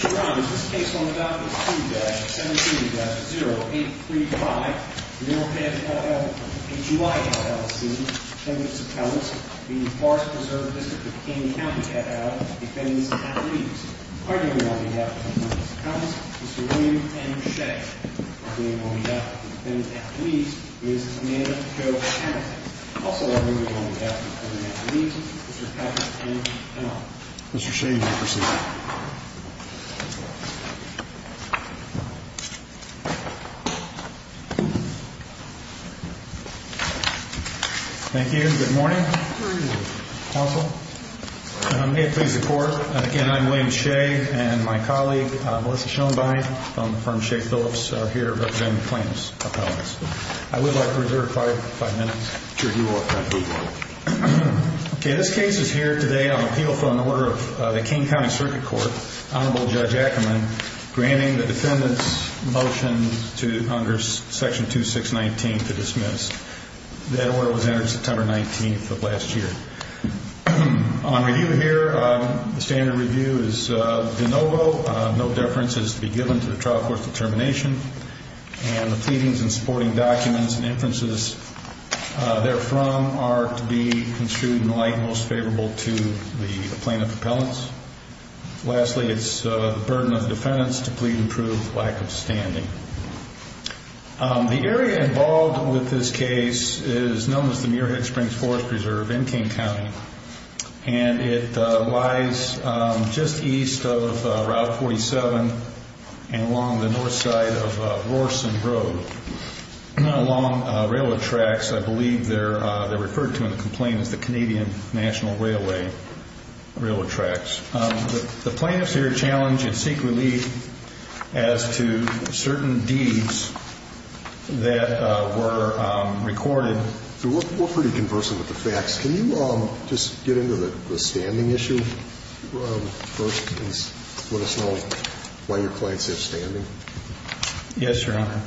Brown, is this case on the docket 2-17-0835 Mirhead HUI L.L.C. v. Forest Preserve District of Kane County Defendants and Athletes. Arguably on behalf of the Defendants and Athletes, Mr. William M. Shea. Arguably on behalf of the Defendants and Athletes, Ms. Amanda Jo Hamilton. Also arguably on behalf of the Defendants and Athletes, Mr. Patrick M. Powell. Mr. Shea, you may proceed. Thank you. Good morning. Good morning. Counsel. May it please the Court, again, I'm William Shea and my colleague Melissa Schoenbein from the firm Shea Phillips here representing the plaintiffs' appellants. I would like to reserve five minutes. Sure, you are. Okay, this case is here today on appeal for an order of the Kane County Circuit Court. Honorable Judge Ackerman granting the Defendants' motion under section 2619 to dismiss. That order was entered September 19th of last year. On review here, the standard review is de novo. No deference is to be given to the trial court's determination. And the pleadings and supporting documents and inferences therefrom are to be construed in the light most favorable to the plaintiff's appellants. Lastly, it's the burden of the Defendants to plead and prove lack of standing. The area involved with this case is known as the Muirhead Springs Forest Reserve in Kane County. And it lies just east of Route 47 and along the north side of Rorson Road. Along railroad tracks, I believe they're referred to in the complaint as the Canadian National Railway railroad tracks. The plaintiffs here challenge and seek relief as to certain deeds that were recorded. We're pretty conversant with the facts. Can you just get into the standing issue first? What it's like, why your clients have standing? Yes, Your Honor.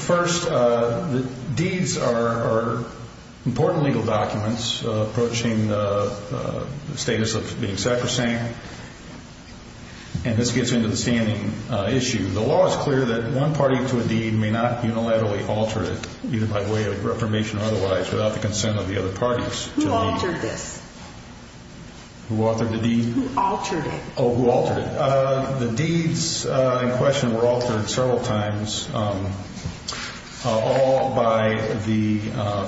First, the deeds are important legal documents approaching the status of being sacrosanct. And this gets into the standing issue. The law is clear that one party to a deed may not unilaterally alter it, either by way of reformation or otherwise, without the consent of the other parties. Who altered this? Who altered the deed? Who altered it? Oh, who altered it. The deeds in question were altered several times, all by the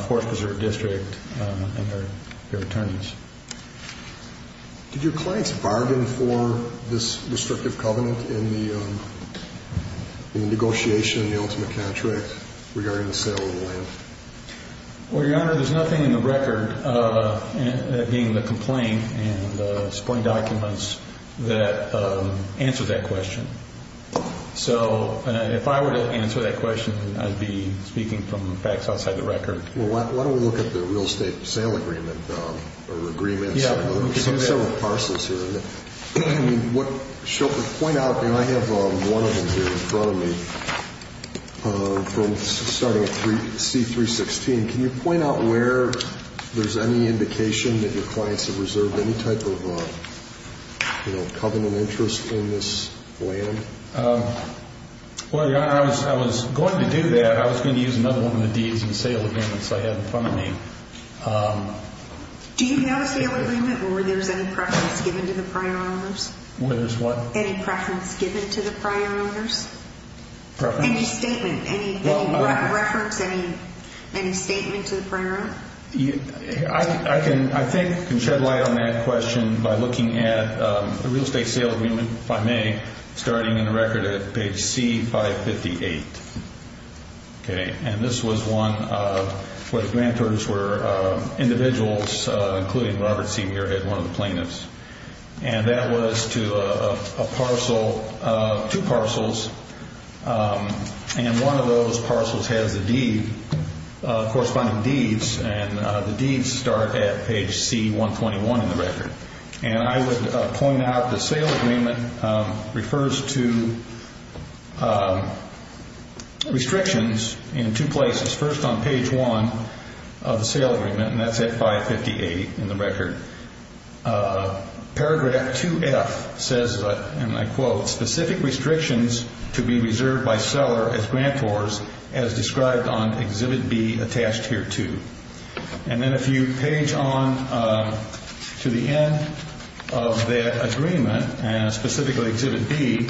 Forest Reserve District and their attorneys. Did your clients bargain for this restrictive covenant in the negotiation of the ultimate contract regarding the sale of the land? Well, Your Honor, there's nothing in the record, that being the complaint and the supporting documents, that answers that question. So if I were to answer that question, I'd be speaking from facts outside the record. Well, why don't we look at the real estate sale agreement or agreements? We have several parcels here. I have one of them here in front of me, starting at C-316. Can you point out where there's any indication that your clients have reserved any type of covenant interest in this land? Well, Your Honor, I was going to do that. I was going to use another one of the deeds and sale agreements I have in front of me. Do you have a sale agreement, or were there any preference given to the prior owners? Where there's what? Any preference given to the prior owners? Preference? Any statement, any reference, any statement to the prior owner? I can, I think, shed light on that question by looking at the real estate sale agreement by me, starting in the record at page C-558. And this was one where the grantors were individuals, including Robert C. Muirhead, one of the plaintiffs. And that was to a parcel, two parcels, and one of those parcels has a deed, corresponding deeds, and the deeds start at page C-121 in the record. And I would point out the sale agreement refers to restrictions in two places. First on page 1 of the sale agreement, and that's at 558 in the record. Paragraph 2F says, and I quote, Specific restrictions to be reserved by seller as grantors as described on Exhibit B attached here too. And then if you page on to the end of that agreement, specifically Exhibit B,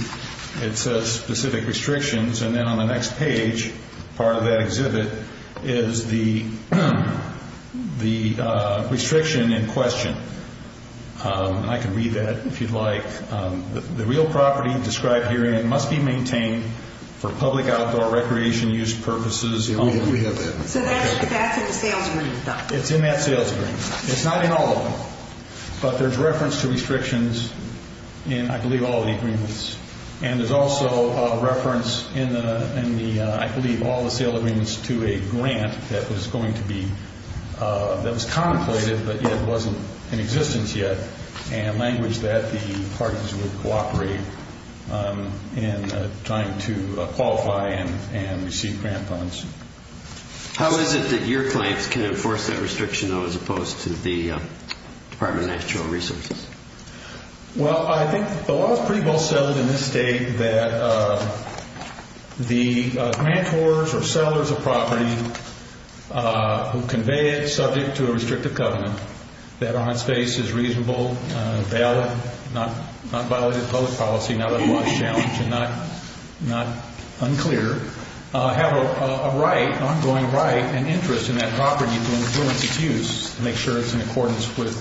it says specific restrictions. And then on the next page, part of that exhibit, is the restriction in question. I can read that if you'd like. The real property described herein must be maintained for public outdoor recreation use purposes. We have that. So that's in the sales agreement? It's in that sales agreement. It's not in all of them. But there's reference to restrictions in, I believe, all the agreements. And there's also a reference in the, I believe, all the sale agreements to a grant that was going to be, that was contemplated but yet wasn't in existence yet, and language that the parties would cooperate in trying to qualify and receive grant funds. How is it that your claims can enforce that restriction, though, as opposed to the Department of Natural Resources? Well, I think the law is pretty well settled in this state that the grantors or sellers of property who convey it subject to a restrictive covenant, that on its face is reasonable, valid, not violated public policy, not a law challenge and not unclear, have a right, an ongoing right and interest in that property to influence its use to make sure it's in accordance with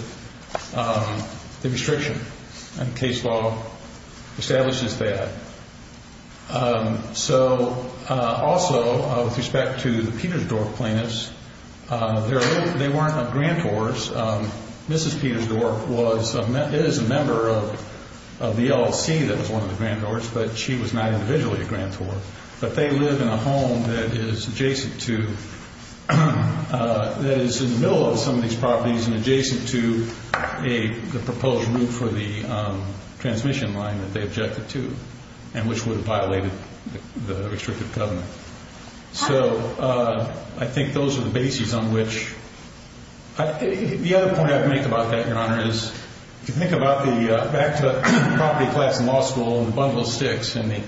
the restriction. And case law establishes that. So also with respect to the Petersdorf plaintiffs, they weren't grantors. Mrs. Petersdorf is a member of the LLC that was one of the grantors, but she was not individually a grantor. But they live in a home that is adjacent to, that is in the middle of some of these properties and adjacent to the proposed route for the transmission line that they objected to and which would have violated the restrictive covenant. So I think those are the bases on which. The other point I'd make about that, Your Honor, is if you think about the back-to-property class in law school and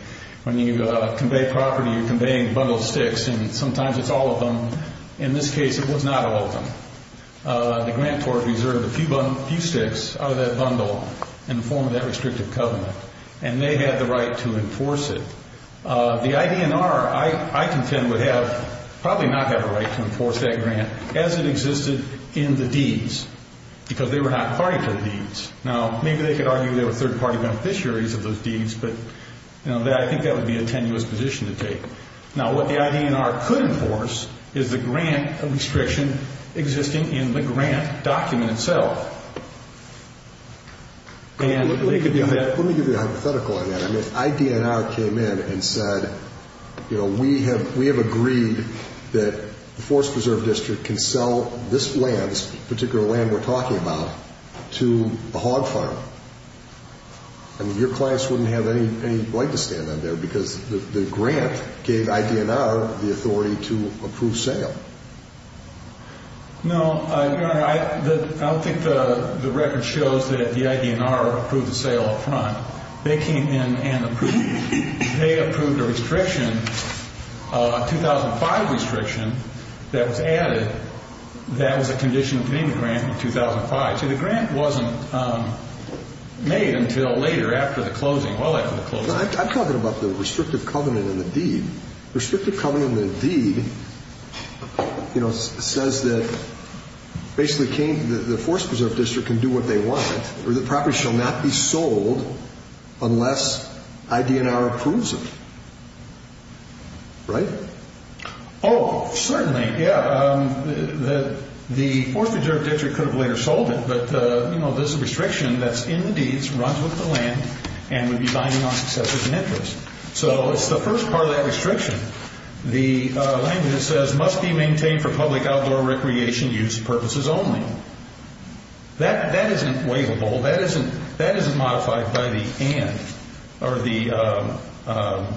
when you convey property, you're conveying bundled sticks, and sometimes it's all of them. In this case, it was not all of them. The grantors reserved a few sticks out of that bundle in the form of that restrictive covenant, and they had the right to enforce it. The IDNR, I contend, would have probably not had a right to enforce that grant as it existed in the deeds because they were not party to the deeds. Now, maybe they could argue they were third-party beneficiaries of those deeds, but I think that would be a tenuous position to take. Now, what the IDNR could enforce is the grant restriction existing in the grant document itself. Let me give you a hypothetical on that. If IDNR came in and said, you know, we have agreed that the Forest Preserve District can sell this land, this particular land we're talking about, to a hog farm, I mean, your class wouldn't have any right to stand on there because the grant gave IDNR the authority to approve sale. No, Your Honor, I don't think the record shows that the IDNR approved the sale up front. They came in and they approved a restriction, a 2005 restriction, that was added that was a conditional payment grant in 2005. See, the grant wasn't made until later, after the closing, well after the closing. I'm talking about the restrictive covenant in the deed. The restrictive covenant in the deed, you know, says that basically the Forest Preserve District can do what they want, or the property shall not be sold unless IDNR approves it. Right? Oh, certainly, yeah. The Forest Preserve District could have later sold it, but, you know, this restriction that's in the deeds runs with the land and would be binding on success as an interest. So it's the first part of that restriction. The language says, must be maintained for public outdoor recreation use purposes only. That isn't waivable. That isn't modified by the and or the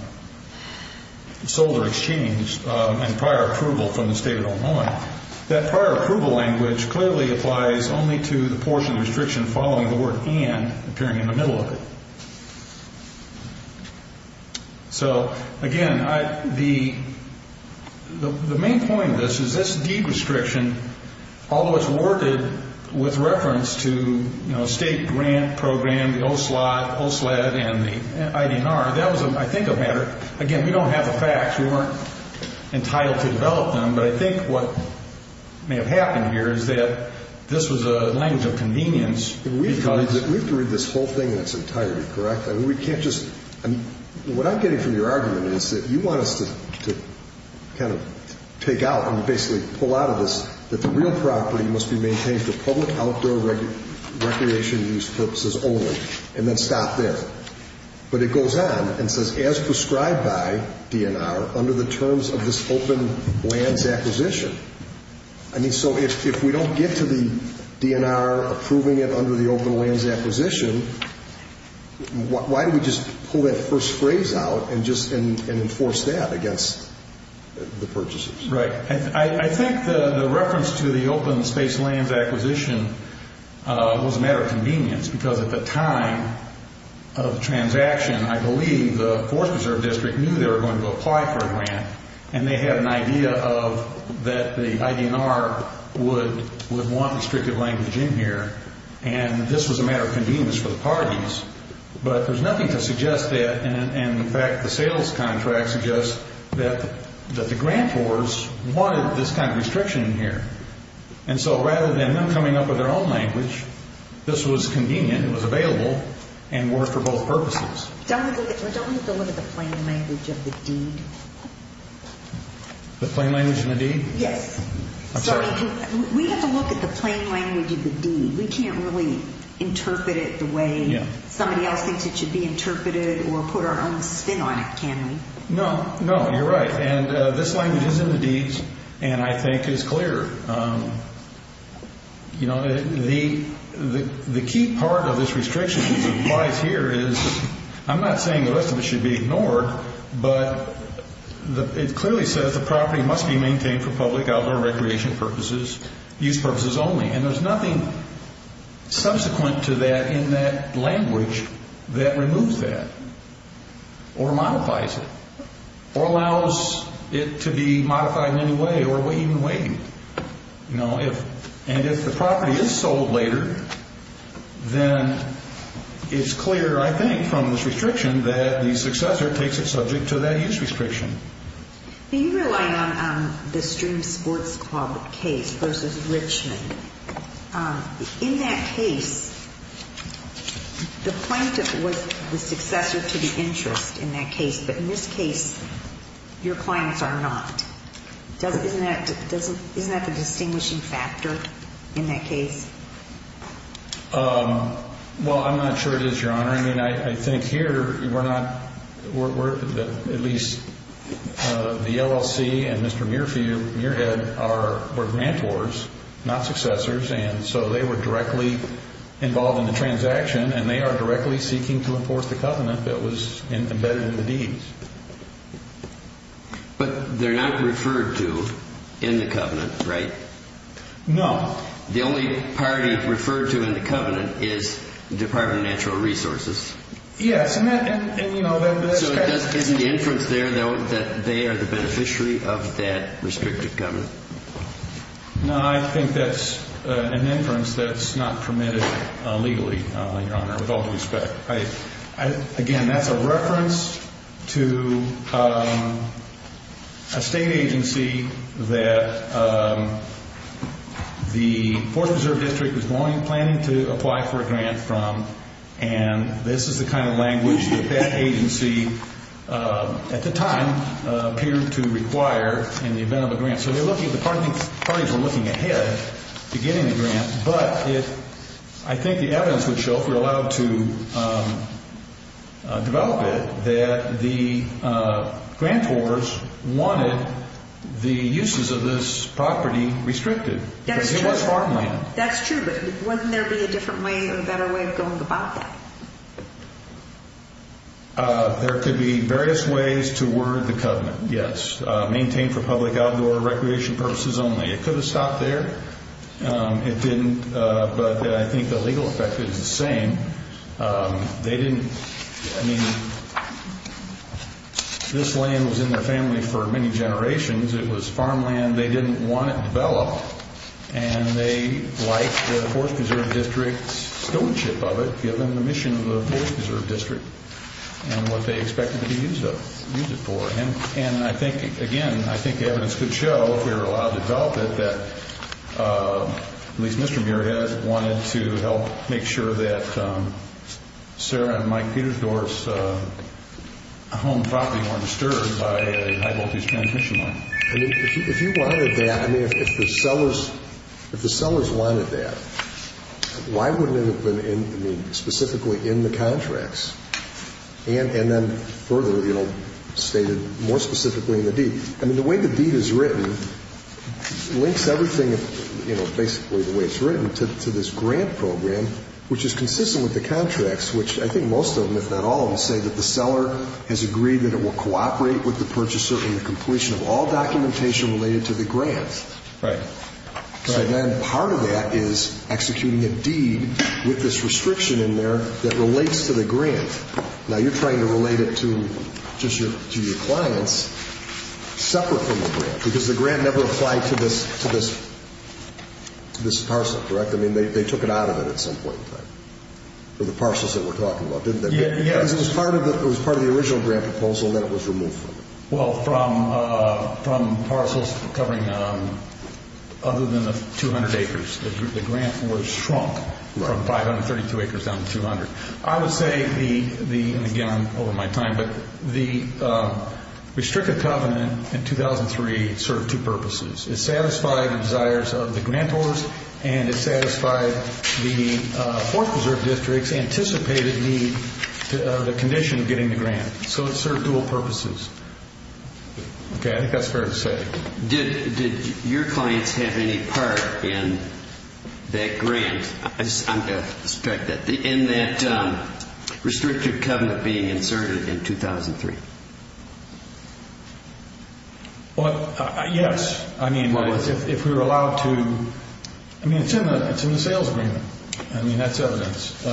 sold or exchanged and prior approval from the State of Illinois. That prior approval language clearly applies only to the portion of the restriction following the word and appearing in the middle of it. So, again, the main point of this is this deed restriction, although it's worded with reference to, you know, State grant program, the OSLOD, OSLED, and the IDNR, that was, I think, a matter. Again, we don't have the facts. We weren't entitled to develop them. But I think what may have happened here is that this was a language of convenience. We've got to read this whole thing in its entirety, correct? I mean, we can't just – what I'm getting from your argument is that you want us to kind of take out and basically pull out of this that the real property must be maintained for public outdoor recreation use purposes only and then stop there. But it goes on and says, as prescribed by DNR, under the terms of this open lands acquisition. I mean, so if we don't get to the DNR approving it under the open lands acquisition, why do we just pull that first phrase out and just enforce that against the purchasers? Right. I think the reference to the open space lands acquisition was a matter of convenience because at the time of the transaction, I believe, the Forest Preserve District knew they were going to apply for a grant, and they had an idea that the IDNR would want restrictive language in here. And this was a matter of convenience for the parties. But there's nothing to suggest that. And, in fact, the sales contract suggests that the grantors wanted this kind of restriction in here. And so rather than them coming up with their own language, this was convenient, it was available, and worked for both purposes. Don't we have to look at the plain language of the deed? The plain language of the deed? Yes. I'm sorry. We have to look at the plain language of the deed. We can't really interpret it the way somebody else thinks it should be interpreted or put our own spin on it, can we? No. No, you're right. And this language is in the deeds, and I think is clear. You know, the key part of this restriction that applies here is, I'm not saying the rest of it should be ignored, but it clearly says the property must be maintained for public, outdoor recreation purposes, use purposes only. And there's nothing subsequent to that in that language that removes that or modifies it or allows it to be modified in any way or even waived. And if the property is sold later, then it's clear, I think, from this restriction, that the successor takes it subject to that use restriction. You rely on the Stream Sports Club case versus Richmond. In that case, the plaintiff was the successor to the interest in that case, but in this case, your clients are not. Isn't that the distinguishing factor in that case? Well, I'm not sure it is, Your Honor. Your Honor, I mean, I think here we're not at least the LLC and Mr. Muirhead were grantors, not successors, and so they were directly involved in the transaction, and they are directly seeking to enforce the covenant that was embedded in the deeds. But they're not referred to in the covenant, right? No. The only party referred to in the covenant is the Department of Natural Resources. Yes. So isn't the inference there, though, that they are the beneficiary of that restricted covenant? No, I think that's an inference that's not permitted legally, Your Honor, with all due respect. Again, that's a reference to a state agency that the Fourth Preserve District was planning to apply for a grant from, and this is the kind of language that that agency at the time appeared to require in the event of a grant. So the parties were looking ahead to getting a grant, but I think the evidence would show, if we're allowed to develop it, that the grantors wanted the uses of this property restricted because it was farmland. That's true, but wouldn't there be a different way or a better way of going about that? There could be various ways to word the covenant, yes. Maintain for public outdoor recreation purposes only. It could have stopped there. It didn't, but I think the legal effect is the same. They didn't, I mean, this land was in their family for many generations. It was farmland. They didn't want it developed, and they liked the Fourth Preserve District's stewardship of it, given the mission of the Fourth Preserve District and what they expected to use it for. And I think, again, I think the evidence could show, if we were allowed to develop it, that at least Mr. Muirhead wanted to help make sure that Sarah and Mike Petersdorf's home property weren't disturbed by a high-voltage transmission line. If you wanted that, I mean, if the sellers wanted that, why wouldn't it have been, I mean, more specifically in the deed? I mean, the way the deed is written links everything, you know, basically the way it's written to this grant program, which is consistent with the contracts, which I think most of them, if not all of them, say that the seller has agreed that it will cooperate with the purchaser in the completion of all documentation related to the grant. Right. So then part of that is executing a deed with this restriction in there that relates to the grant. Now, you're trying to relate it to just your clients separate from the grant, because the grant never applied to this parcel, correct? I mean, they took it out of it at some point in time, the parcels that we're talking about, didn't they? Yes. Because it was part of the original grant proposal, and then it was removed from it. Well, from parcels covering other than the 200 acres. The grant was shrunk from 532 acres down to 200. I would say the, again, I'm over my time, but the restricted covenant in 2003 served two purposes. It satisfied the desires of the grantors, and it satisfied the Fourth Preserve District's anticipated need, the condition of getting the grant. So it served dual purposes. Okay. I think that's fair to say. Did your clients have any part in that grant? I'm going to strike that. In that restricted covenant being inserted in 2003? Yes. If we were allowed to. I mean, it's in the sales agreement. I mean, that's evidence.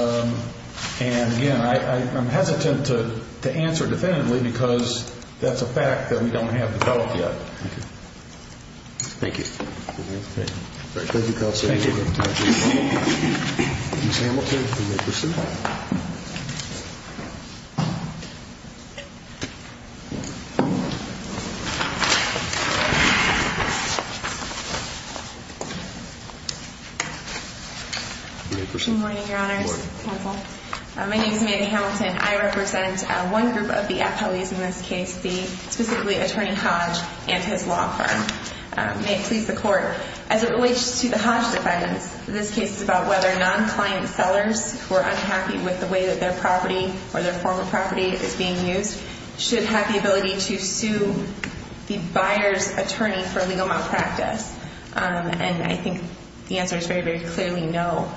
And, again, I'm hesitant to answer definitively because that's a fact that we don't have developed yet. Thank you. Thank you, Counsel. Thank you. Ms. Hamilton, you may proceed. Good morning, Your Honors. Good morning. Counsel. My name is Mandy Hamilton. I represent one group of the appellees in this case, specifically Attorney Hodge and his law firm. May it please the Court. As it relates to the Hodge defendants, this case is about whether non-client sellers who are unhappy with the way that their property or their former property is being used should have the ability to sue the buyer's attorney for legal malpractice. And I think the answer is very, very clearly no.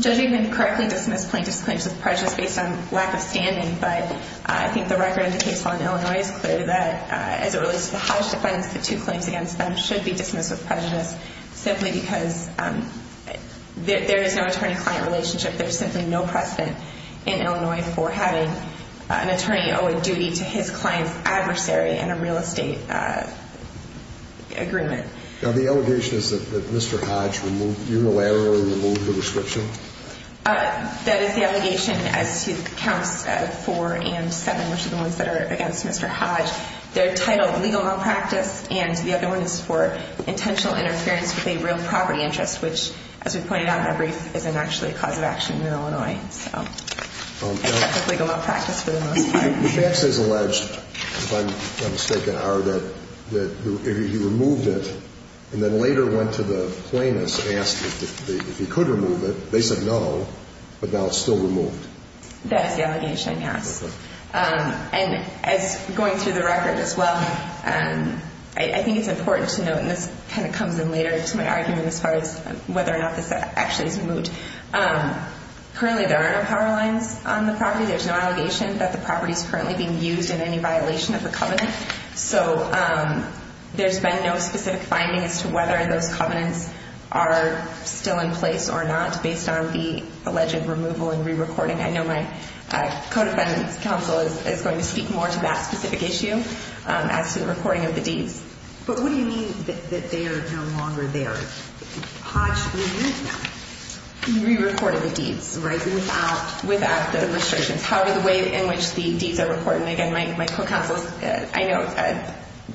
Judging them to correctly dismiss plaintiff's claims of prejudice based on lack of standing, but I think the record in the case file in Illinois is clear that, as it relates to the Hodge defendants, the two claims against them should be dismissed with prejudice simply because there is no attorney-client relationship. There's simply no precedent in Illinois for having an attorney owe a duty to his client's adversary in a real estate agreement. Now, the allegation is that Mr. Hodge unilaterally removed the prescription? That is the allegation as to counts 4 and 7, which are the ones that are against Mr. Hodge. They're titled legal malpractice, and the other one is for intentional interference with a real property interest, which, as we pointed out in our brief, isn't actually a cause of action in Illinois. So, except with legal malpractice for the most part. The facts as alleged, if I'm mistaken, are that he removed it and then later went to the plaintiffs and asked if he could remove it. They said no, but now it's still removed. That is the allegation, yes. And as going through the record as well, I think it's important to note, and this kind of comes in later to my argument as far as whether or not this actually is removed, currently there are no power lines on the property. There's no allegation that the property is currently being used in any violation of the covenant. So there's been no specific finding as to whether those covenants are still in place or not, based on the alleged removal and rerecording. I know my co-defendant's counsel is going to speak more to that specific issue as to the recording of the deeds. But what do you mean that they are no longer there? Hodge re-recorded the deeds, right, without the restrictions. However, the way in which the deeds are recorded, and again, my co-counsel is, I know,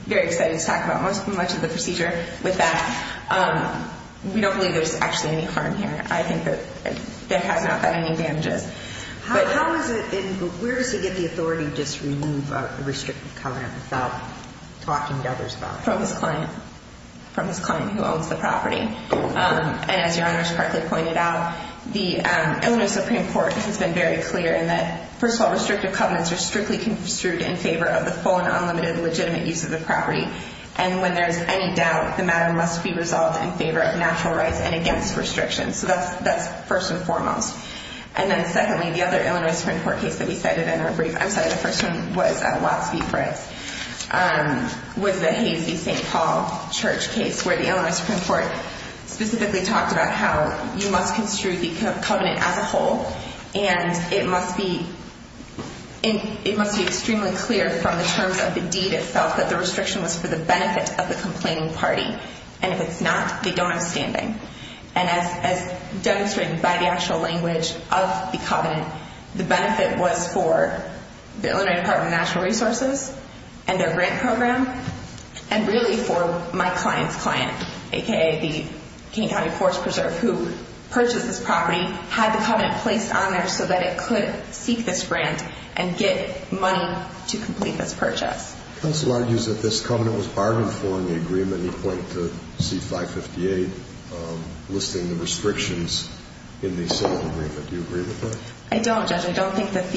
very excited to talk about much of the procedure with that. We don't believe there's actually any harm here. I think that there has not been any damages. But how is it, and where does he get the authority to just remove a restricted covenant without talking to others about it? From his client, from his client who owns the property. And as Your Honor has correctly pointed out, the Illinois Supreme Court has been very clear in that, first of all, restrictive covenants are strictly construed in favor of the full and unlimited, legitimate use of the property. And when there's any doubt, the matter must be resolved in favor of natural rights and against restrictions. So that's first and foremost. And then secondly, the other Illinois Supreme Court case that he cited in our brief, I'm sorry, the first one was Watts v. Fritz, was the Hazy St. Paul Church case where the Illinois Supreme Court specifically talked about how you must construe the covenant as a whole, and it must be extremely clear from the terms of the deed itself that the restriction was for the benefit of the complaining party. And if it's not, they don't have standing. And as demonstrated by the actual language of the covenant, the benefit was for the Illinois Department of Natural Resources and their grant program, and really for my client's client, a.k.a. the King County Forest Preserve, who purchased this property, had the covenant placed on there so that it could seek this grant and get money to complete this purchase. Counsel argues that this covenant was bargained for in the agreement. He pointed to C558 listing the restrictions in the settlement agreement. Do you agree with that? I don't, Judge. I don't think that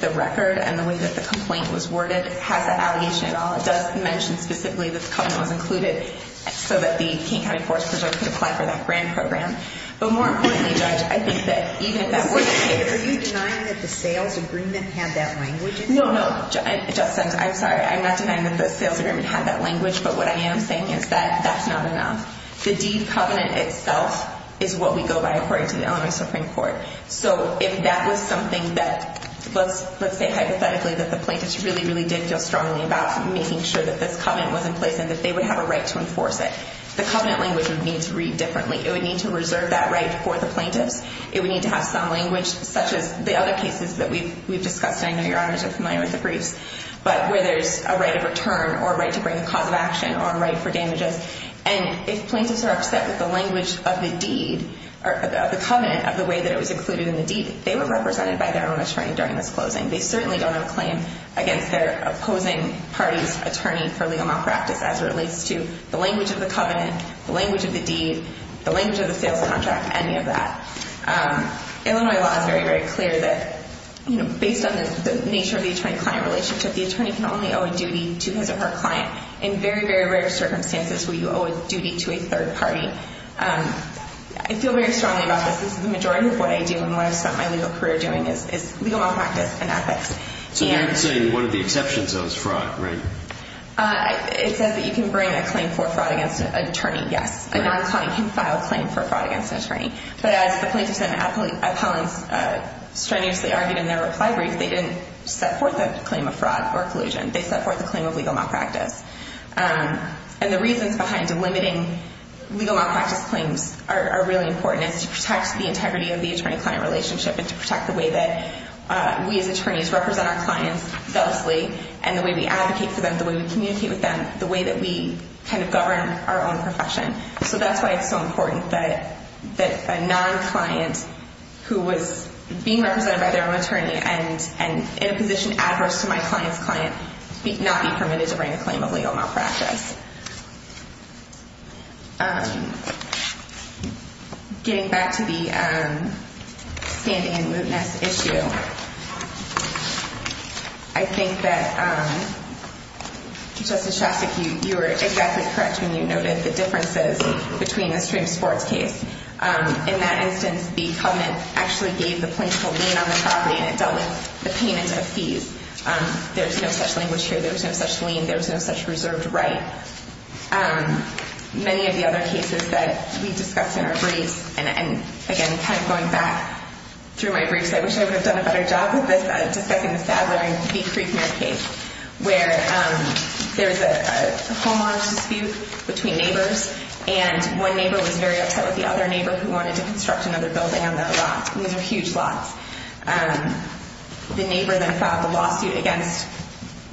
the record and the way that the complaint was worded has an allegation at all. It does mention specifically that the covenant was included so that the King County Forest Preserve could apply for that grant program. But more importantly, Judge, I think that even if that were the case Are you denying that the sales agreement had that language? No, no. I'm sorry, I'm not denying that the sales agreement had that language, but what I am saying is that that's not enough. The deed covenant itself is what we go by according to the Elementary Supreme Court. So if that was something that, let's say hypothetically, that the plaintiffs really, really did feel strongly about making sure that this covenant was in place and that they would have a right to enforce it, the covenant language would need to read differently. It would need to reserve that right for the plaintiffs. It would need to have some language, such as the other cases that we've discussed, and I know Your Honors are familiar with the briefs, but where there's a right of return or a right to bring a cause of action or a right for damages. And if plaintiffs are upset with the language of the deed, of the covenant, of the way that it was included in the deed, they were represented by their own attorney during this closing. They certainly don't have a claim against their opposing party's attorney for legal malpractice as it relates to the language of the covenant, the language of the deed, the language of the sales contract, any of that. Illinois law is very, very clear that based on the nature of the attorney-client relationship, the attorney can only owe a duty to his or her client in very, very rare circumstances where you owe a duty to a third party. I feel very strongly about this. This is the majority of what I do and what I've spent my legal career doing is legal malpractice and ethics. So you're saying one of the exceptions, though, is fraud, right? It says that you can bring a claim for fraud against an attorney, yes. A non-client can file a claim for fraud against an attorney. But as the plaintiffs and appellants strenuously argued in their reply brief, they didn't set forth a claim of fraud or collusion. They set forth a claim of legal malpractice. And the reasons behind delimiting legal malpractice claims are really important. It's to protect the integrity of the attorney-client relationship and to protect the way that we as attorneys represent our clients faithfully and the way we advocate for them, the way we communicate with them, the way that we kind of govern our own profession. So that's why it's so important that a non-client who was being represented by their own attorney and in a position adverse to my client's client not be permitted to bring a claim of legal malpractice. Getting back to the standing and mootness issue, I think that, Justice Shostak, you were exactly correct when you noted the differences between the stream sports case. In that instance, the covenant actually gave the plaintiff a lien on the property and it dealt with the payment of fees. There's no such language here. There's no such lien. There's no such reserved right. Many of the other cases that we discussed in our briefs, and again, kind of going back through my briefs, I wish I would have done a better job with this, discussing the Sadler v. Creekman case, where there's a homeowner's dispute between neighbors and one neighbor was very upset with the other neighbor who wanted to construct another building on their lot. These are huge lots. The neighbor then filed the lawsuit against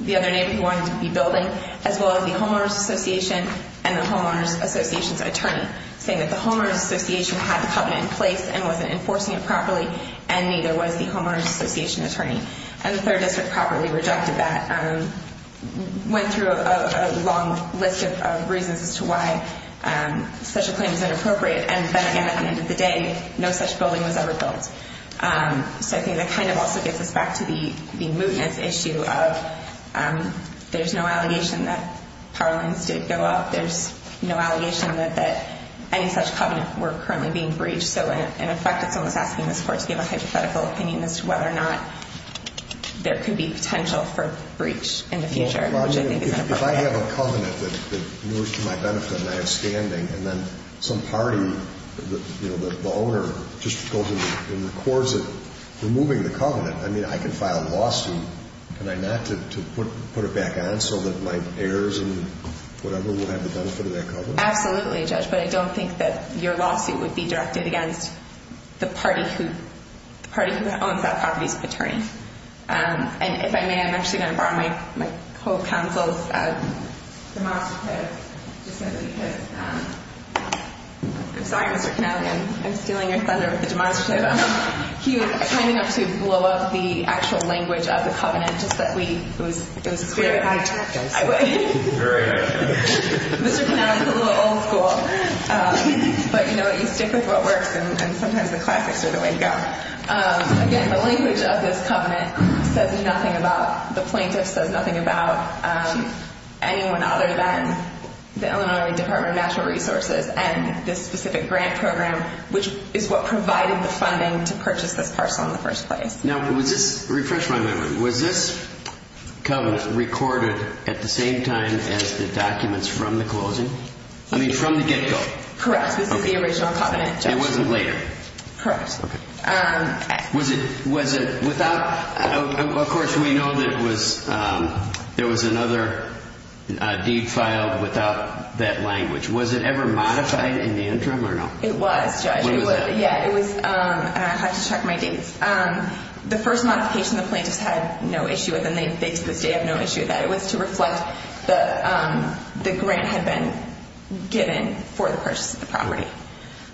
the other neighbor who wanted to be building, as well as the homeowners association and the homeowners association's attorney, saying that the homeowners association had the covenant in place and wasn't enforcing it properly, and neither was the homeowners association attorney. And the third district properly rejected that, went through a long list of reasons as to why such a claim is inappropriate, and at the end of the day, no such building was ever built. So I think that kind of also gets us back to the mootness issue of there's no allegation that power lines did go up. There's no allegation that any such covenant were currently being breached. So in effect, it's almost asking this court to give a hypothetical opinion as to whether or not there could be potential for breach in the future, which I think is inappropriate. If I have a covenant that moves to my benefit and I have standing, and then some party, you know, the owner, just goes and records it, removing the covenant, I mean, I can file a lawsuit, can I not to put it back on so that my heirs and whatever will have the benefit of that covenant? Absolutely, Judge, but I don't think that your lawsuit would be directed against the party who owns that property's attorney. And if I may, I'm actually going to borrow my whole counsel's demonstrative just simply because I'm sorry, Mr. Connelly, I'm stealing your thunder with the demonstrative. He was kind enough to blow up the actual language of the covenant just that we, it was clear that I would. Great. Mr. Connelly's a little old school, but you know what, you stick with what works, and sometimes the classics are the way to go. Again, the language of this covenant says nothing about, the plaintiff says nothing about anyone other than the Illinois Department of Natural Resources and this specific grant program, which is what provided the funding to purchase this parcel in the first place. Now, refresh my memory. Was this covenant recorded at the same time as the documents from the closing? I mean, from the get-go? Correct, this is the original covenant, Judge. It wasn't later? Correct. Was it without, of course we know there was another deed filed without that language. Was it ever modified in the interim or not? It was, Judge. When was that? Yeah, it was, and I have to check my dates. The first modification the plaintiffs had no issue with, and they to this day have no issue with that, it was to reflect the grant had been given for the purchase of the property.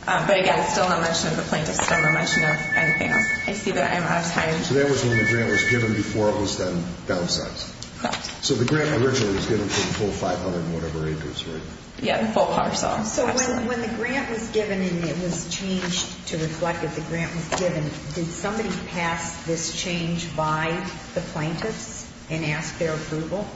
But again, it's still no mention of the plaintiffs, it's still no mention of anything else. I see that I'm out of time. So that was when the grant was given before it was then downsized? Correct. So the grant originally was given for the full 500 and whatever acres, right? Yeah, the full parcel. So when the grant was given and it was changed to reflect that the grant was given, did somebody pass this change by the plaintiffs and ask their approval?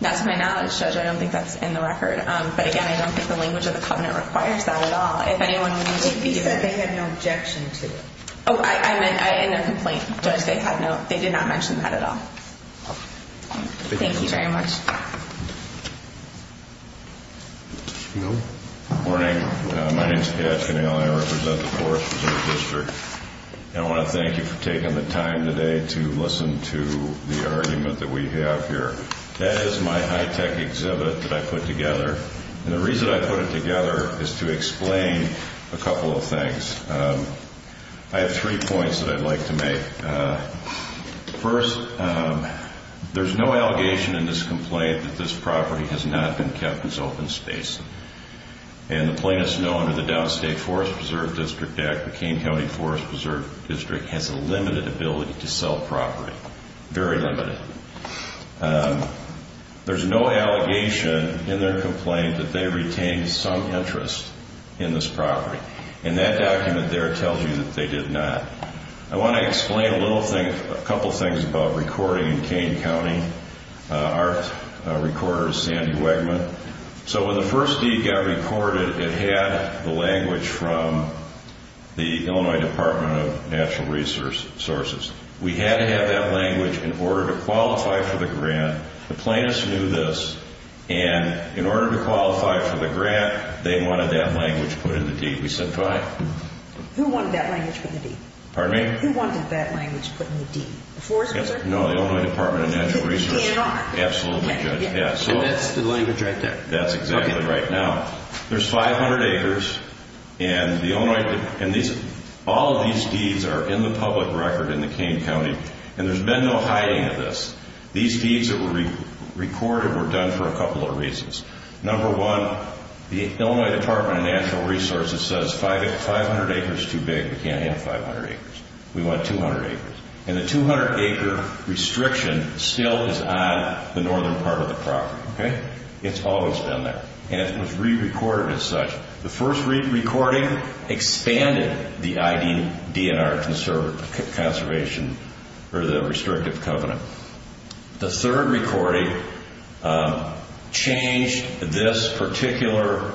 Not to my knowledge, Judge, I don't think that's in the record. But again, I don't think the language of the covenant requires that at all. If anyone would need to give it. But you said they had no objection to it. Oh, I meant in their complaint, Judge, they did not mention that at all. Thank you very much. Good morning. My name is Pat Finnell. I represent the Forest Reserve District, and I want to thank you for taking the time today to listen to the argument that we have here. That is my high-tech exhibit that I put together. And the reason I put it together is to explain a couple of things. I have three points that I'd like to make. First, there's no allegation in this complaint that this property has not been kept as open space. And the plaintiffs know under the Downstate Forest Preserve District Act, the Kane County Forest Preserve District has a limited ability to sell property, very limited. There's no allegation in their complaint that they retained some interest in this property. And that document there tells you that they did not. I want to explain a couple of things about recording in Kane County. Our recorder is Sandy Wegman. So when the first deed got recorded, it had the language from the Illinois Department of Natural Resources. We had to have that language in order to qualify for the grant. The plaintiffs knew this. And in order to qualify for the grant, they wanted that language put in the deed. We said, fine. Who wanted that language put in the deed? Pardon me? Who wanted that language put in the deed? The Forest Reserve? No, the Illinois Department of Natural Resources. The DNR? Absolutely, Judge. And that's the language right there. That's exactly right. Now, there's 500 acres. And all of these deeds are in the public record in the Kane County. And there's been no hiding of this. These deeds that were recorded were done for a couple of reasons. Number one, the Illinois Department of Natural Resources says 500 acres is too big. We can't have 500 acres. We want 200 acres. And the 200-acre restriction still is on the northern part of the property. Okay? It's always been there. And it was re-recorded as such. The first recording expanded the IDNR conservative conservation or the restrictive covenant. The third recording changed this particular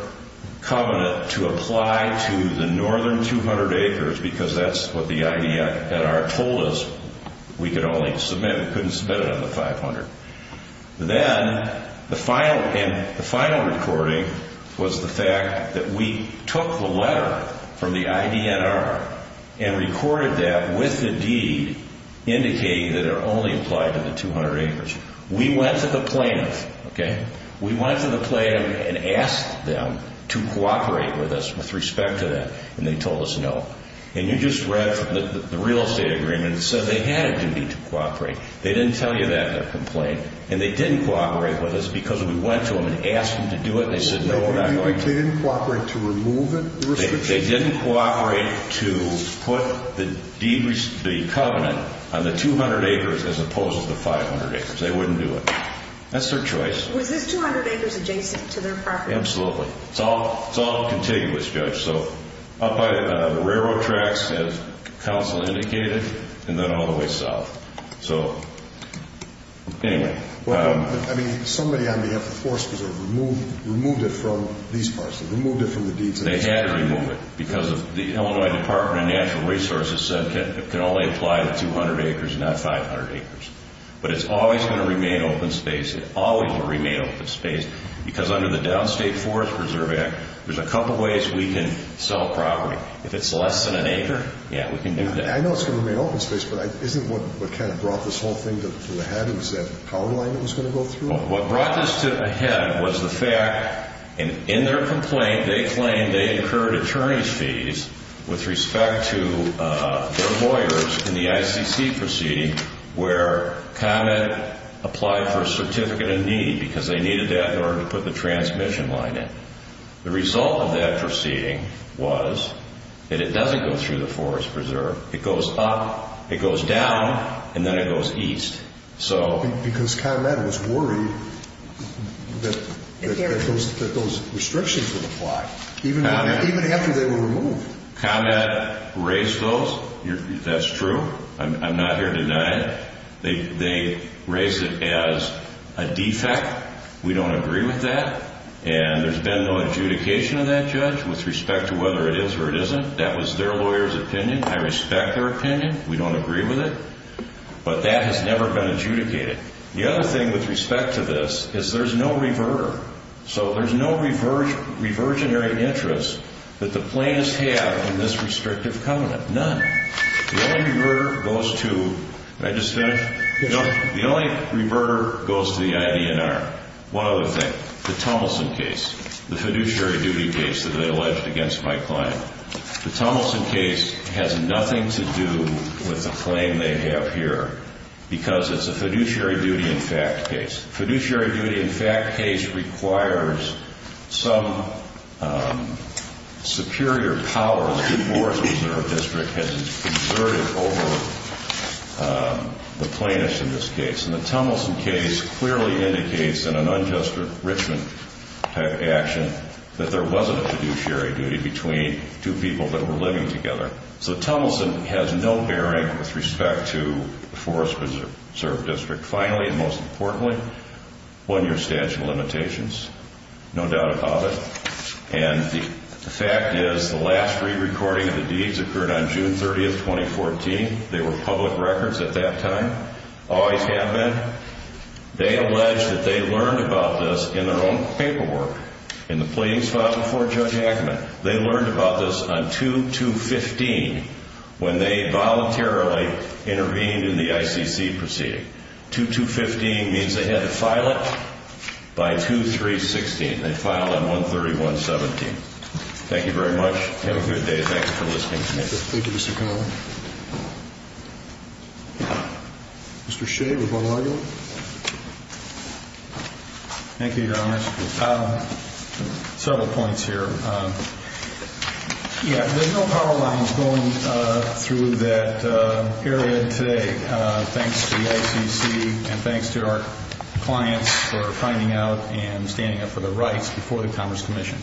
covenant to apply to the northern 200 acres because that's what the IDNR told us we could only submit. We couldn't submit it on the 500. Then the final recording was the fact that we took the letter from the IDNR and recorded that with the deed indicating that it only applied to the 200 acres. We went to the plaintiff, okay? We went to the plaintiff and asked them to cooperate with us with respect to that. And they told us no. And you just read from the real estate agreement. It says they had a duty to cooperate. They didn't tell you that in their complaint. And they didn't cooperate with us because we went to them and asked them to do it and they said no, we're not going to do it. They didn't cooperate to remove it, the restriction? They didn't cooperate to put the covenant on the 200 acres as opposed to 500 acres. They wouldn't do it. That's their choice. Was this 200 acres adjacent to their property? Absolutely. It's all contiguous, Judge. So up by the railroad tracks, as counsel indicated, and then all the way south. So anyway. Somebody on behalf of Forest Preserve removed it from these parts. They removed it from the deeds. They had to remove it because the Illinois Department of Natural Resources said it can only apply to 200 acres and not 500 acres. But it's always going to remain open space. It always will remain open space because under the Downstate Forest Preserve Act, there's a couple ways we can sell property. If it's less than an acre, yeah, we can do that. I know it's going to remain open space, but isn't what kind of brought this whole thing to the head was that power line that was going to go through? What brought this to the head was the fact in their complaint they claimed they incurred attorney's fees with respect to their lawyers in the ICC proceeding where Comet applied for a certificate of need because they needed that in order to put the transmission line in. The result of that proceeding was that it doesn't go through the Forest Preserve. It goes up, it goes down, and then it goes east. Because Comet was worried that those restrictions would apply, even after they were removed. Comet raised those. That's true. I'm not here to deny it. They raised it as a defect. We don't agree with that. And there's been no adjudication of that, Judge, with respect to whether it is or it isn't. That was their lawyer's opinion. I respect their opinion. We don't agree with it. But that has never been adjudicated. The other thing with respect to this is there's no reverter. So there's no reversionary interests that the plaintiffs have in this restrictive covenant. None. The only reverter goes to the IBNR. One other thing. The Tummelson case, the fiduciary duty case that they alleged against my client. The Tummelson case has nothing to do with the claim they have here because it's a fiduciary duty in fact case. Fiduciary duty in fact case requires some superior power that the Forest Preserve District has exerted over the plaintiffs in this case. And the Tummelson case clearly indicates in an unjust enrichment action that there was a fiduciary duty between two people that were living together. So Tummelson has no bearing with respect to the Forest Preserve District. Finally and most importantly, one-year statute of limitations. No doubt about it. And the fact is the last re-recording of the deeds occurred on June 30, 2014. They were public records at that time. Always have been. They allege that they learned about this in their own paperwork in the pleadings filed before Judge Ackerman. They learned about this on 2-2-15 when they voluntarily intervened in the ICC proceeding. 2-2-15 means they had to file it by 2-3-16. They filed on 1-30-1-17. Thank you very much. Have a good day. Thank you for listening to me. Thank you, Mr. Connelly. Mr. Shea, would you like to argue? Thank you, Your Honor. Several points here. Yeah, there's no power lines going through that area today. Thanks to the ICC and thanks to our clients for finding out and standing up for their rights before the Commerce Commission.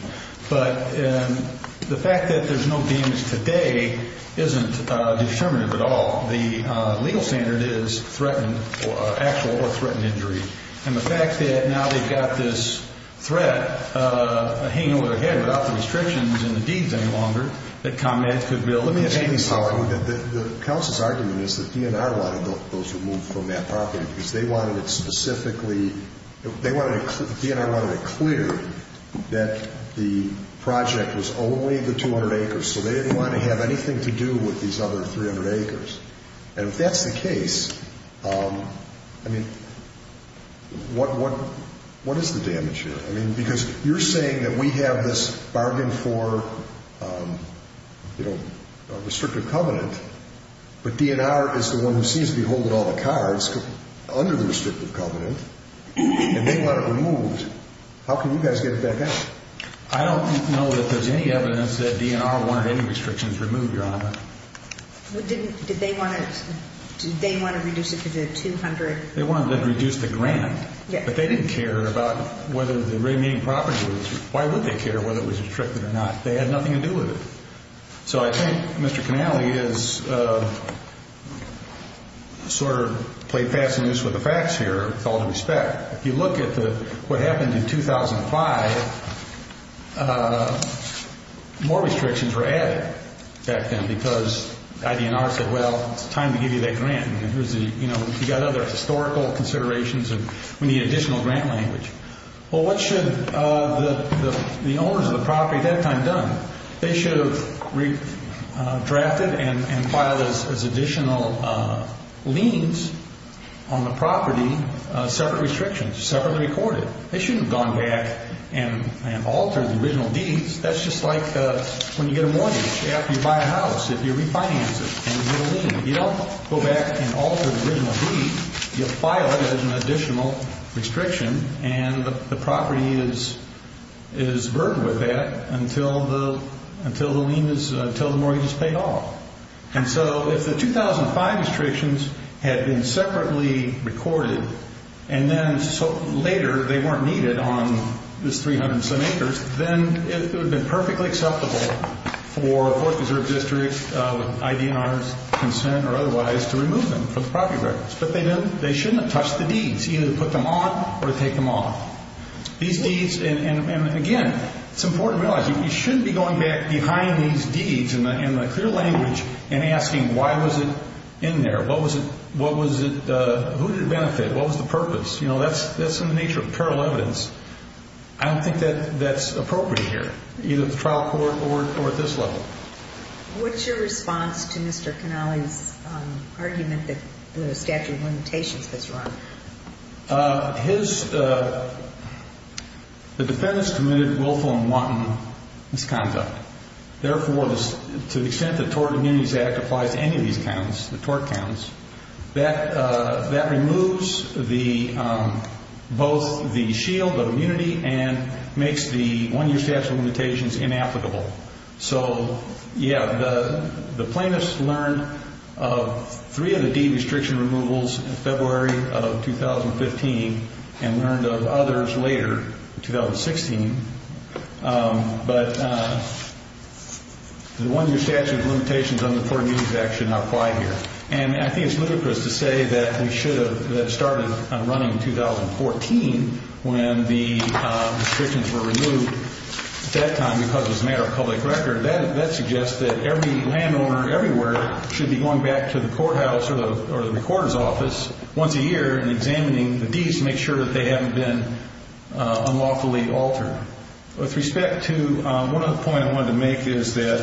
But the fact that there's no damage today isn't determinative at all. The legal standard is actual or threatened injury. And the fact that now they've got this threat hanging over their head without the restrictions and the deeds any longer that ComEd could build. Let me say something. The counsel's argument is that DNR wanted those removed from that property because they wanted it specifically. DNR wanted it clear that the project was only the 200 acres, so they didn't want to have anything to do with these other 300 acres. And if that's the case, I mean, what is the damage here? I mean, because you're saying that we have this bargain for, you know, restrictive covenant, but DNR is the one who seems to be holding all the cards under the restrictive covenant, and they want it removed. How can you guys get it back out? I don't know that there's any evidence that DNR wanted any restrictions removed, Your Honor. Did they want to reduce it to the 200? They wanted to reduce the grant. But they didn't care about whether the remaining property was. Why would they care whether it was restricted or not? They had nothing to do with it. So I think Mr. Connelly is sort of play passing this with the facts here with all due respect. If you look at what happened in 2005, more restrictions were added back then because DNR said, well, it's time to give you that grant. You know, you've got other historical considerations, and we need additional grant language. Well, what should the owners of the property at that time have done? They should have drafted and filed as additional liens on the property separate restrictions, separately recorded. They shouldn't have gone back and altered the original deeds. That's just like when you get a mortgage after you buy a house. If you refinance it and get a lien, you don't go back and alter the original deed. You file it as an additional restriction, and the property is burdened with that until the mortgage is paid off. And so if the 2005 restrictions had been separately recorded, and then later they weren't needed on this 300-some acres, then it would have been perfectly acceptable for Forest Preserve District, with IDNR's consent or otherwise, to remove them from the property records. But they shouldn't have touched the deeds, either to put them on or to take them off. These deeds, and again, it's important to realize you shouldn't be going back behind these deeds in the clear language and asking why was it in there, what was it, who did it benefit, what was the purpose. You know, that's in the nature of parallel evidence. I don't think that's appropriate here, either at the trial court or at this level. What's your response to Mr. Canale's argument that the statute of limitations has run? The defendants committed willful and wanton misconduct. Therefore, to the extent the Tort Immunities Act applies to any of these counts, the tort counts, that removes both the shield of immunity and makes the one-year statute of limitations inapplicable. So, yeah, the plaintiffs learned of three of the deed restriction removals in February of 2015 and learned of others later, in 2016. But the one-year statute of limitations on the Tort Immunities Act should not apply here. And I think it's ludicrous to say that we should have started running in 2014 when the restrictions were removed. At that time, because it was a matter of public record, that suggests that every landowner everywhere should be going back to the courthouse or the recorder's office once a year and examining the deeds to make sure that they haven't been unlawfully altered. With respect to one other point I wanted to make is that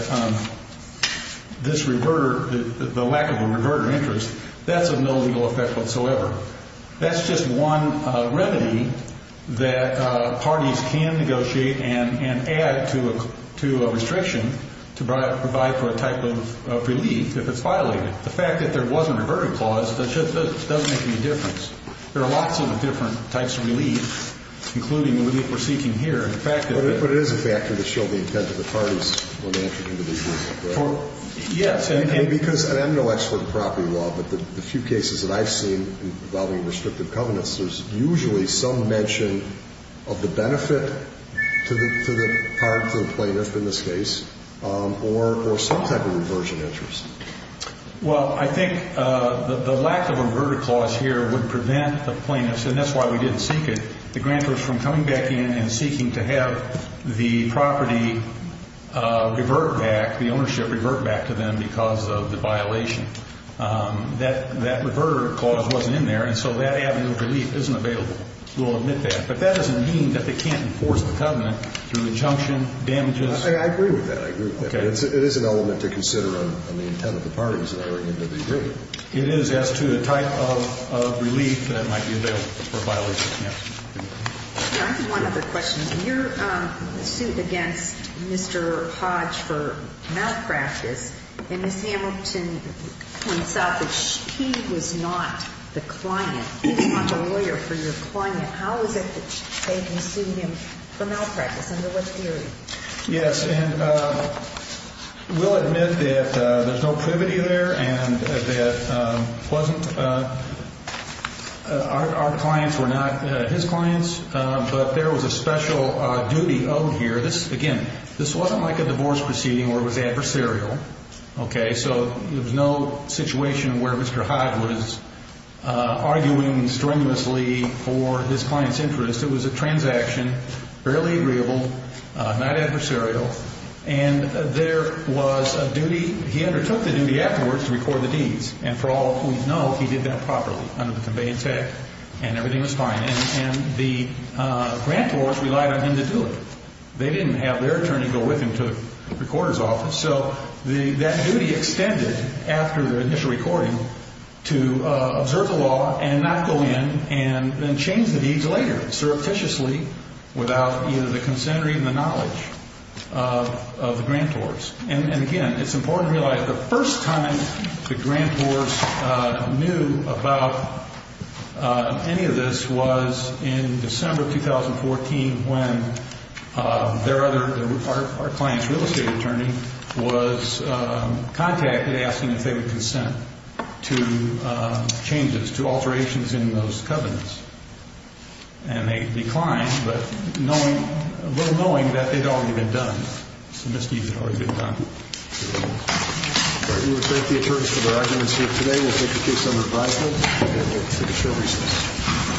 this reverter, the lack of a reverter interest, that's of no legal effect whatsoever. That's just one remedy that parties can negotiate and add to a restriction to provide for a type of relief if it's violated. The fact that there wasn't a verter clause doesn't make any difference. There are lots of different types of relief, including the relief we're seeking here. But it is a factor to show the intent of the parties when they enter into these deals, correct? Yes. Because I'm no expert in property law, but the few cases that I've seen involving restrictive covenants, there's usually some mention of the benefit to the part, to the plaintiff in this case, or some type of reversion interest. Well, I think the lack of a verter clause here would prevent the plaintiffs, and that's why we didn't seek it, the grantors from coming back in and seeking to have the property revert back, the ownership revert back to them because of the violation. That verter clause wasn't in there, and so that avenue of relief isn't available. We'll admit that. But that doesn't mean that they can't enforce the covenant through injunction, damages. I agree with that. I agree with that. But it is an element to consider on the intent of the parties that are entering into the agreement. Yes. I have one other question. Your suit against Mr. Hodge for malpractice, and Ms. Hamilton points out that he was not the client. He's not the lawyer for your client. How is it that they can sue him for malpractice? Under what theory? Yes. We'll admit that there's no privity there and that our clients were not his clients, but there was a special duty owed here. Again, this wasn't like a divorce proceeding where it was adversarial. So there was no situation where Mr. Hodge was arguing strenuously for his client's interest. It was a transaction, barely agreeable, not adversarial, and there was a duty. He undertook the duty afterwards to record the deeds, and for all we know, he did that properly under the conveyance act, and everything was fine. And the grantors relied on him to do it. They didn't have their attorney go with him to the recorder's office. So that duty extended after the initial recording to observe the law and not go in and then change the deeds later, surreptitiously, without either the consent or even the knowledge of the grantors. And again, it's important to realize the first time the grantors knew about any of this was in December of 2014 when our client's real estate attorney was contacted asking if they would consent to changes, to alterations in those covenants. And they declined, but knowing, well, knowing that it had already been done. Some misdeeds had already been done. All right, we will thank the attorneys for their arguments here today. We'll take your case under advisement, and we'll take a short recess.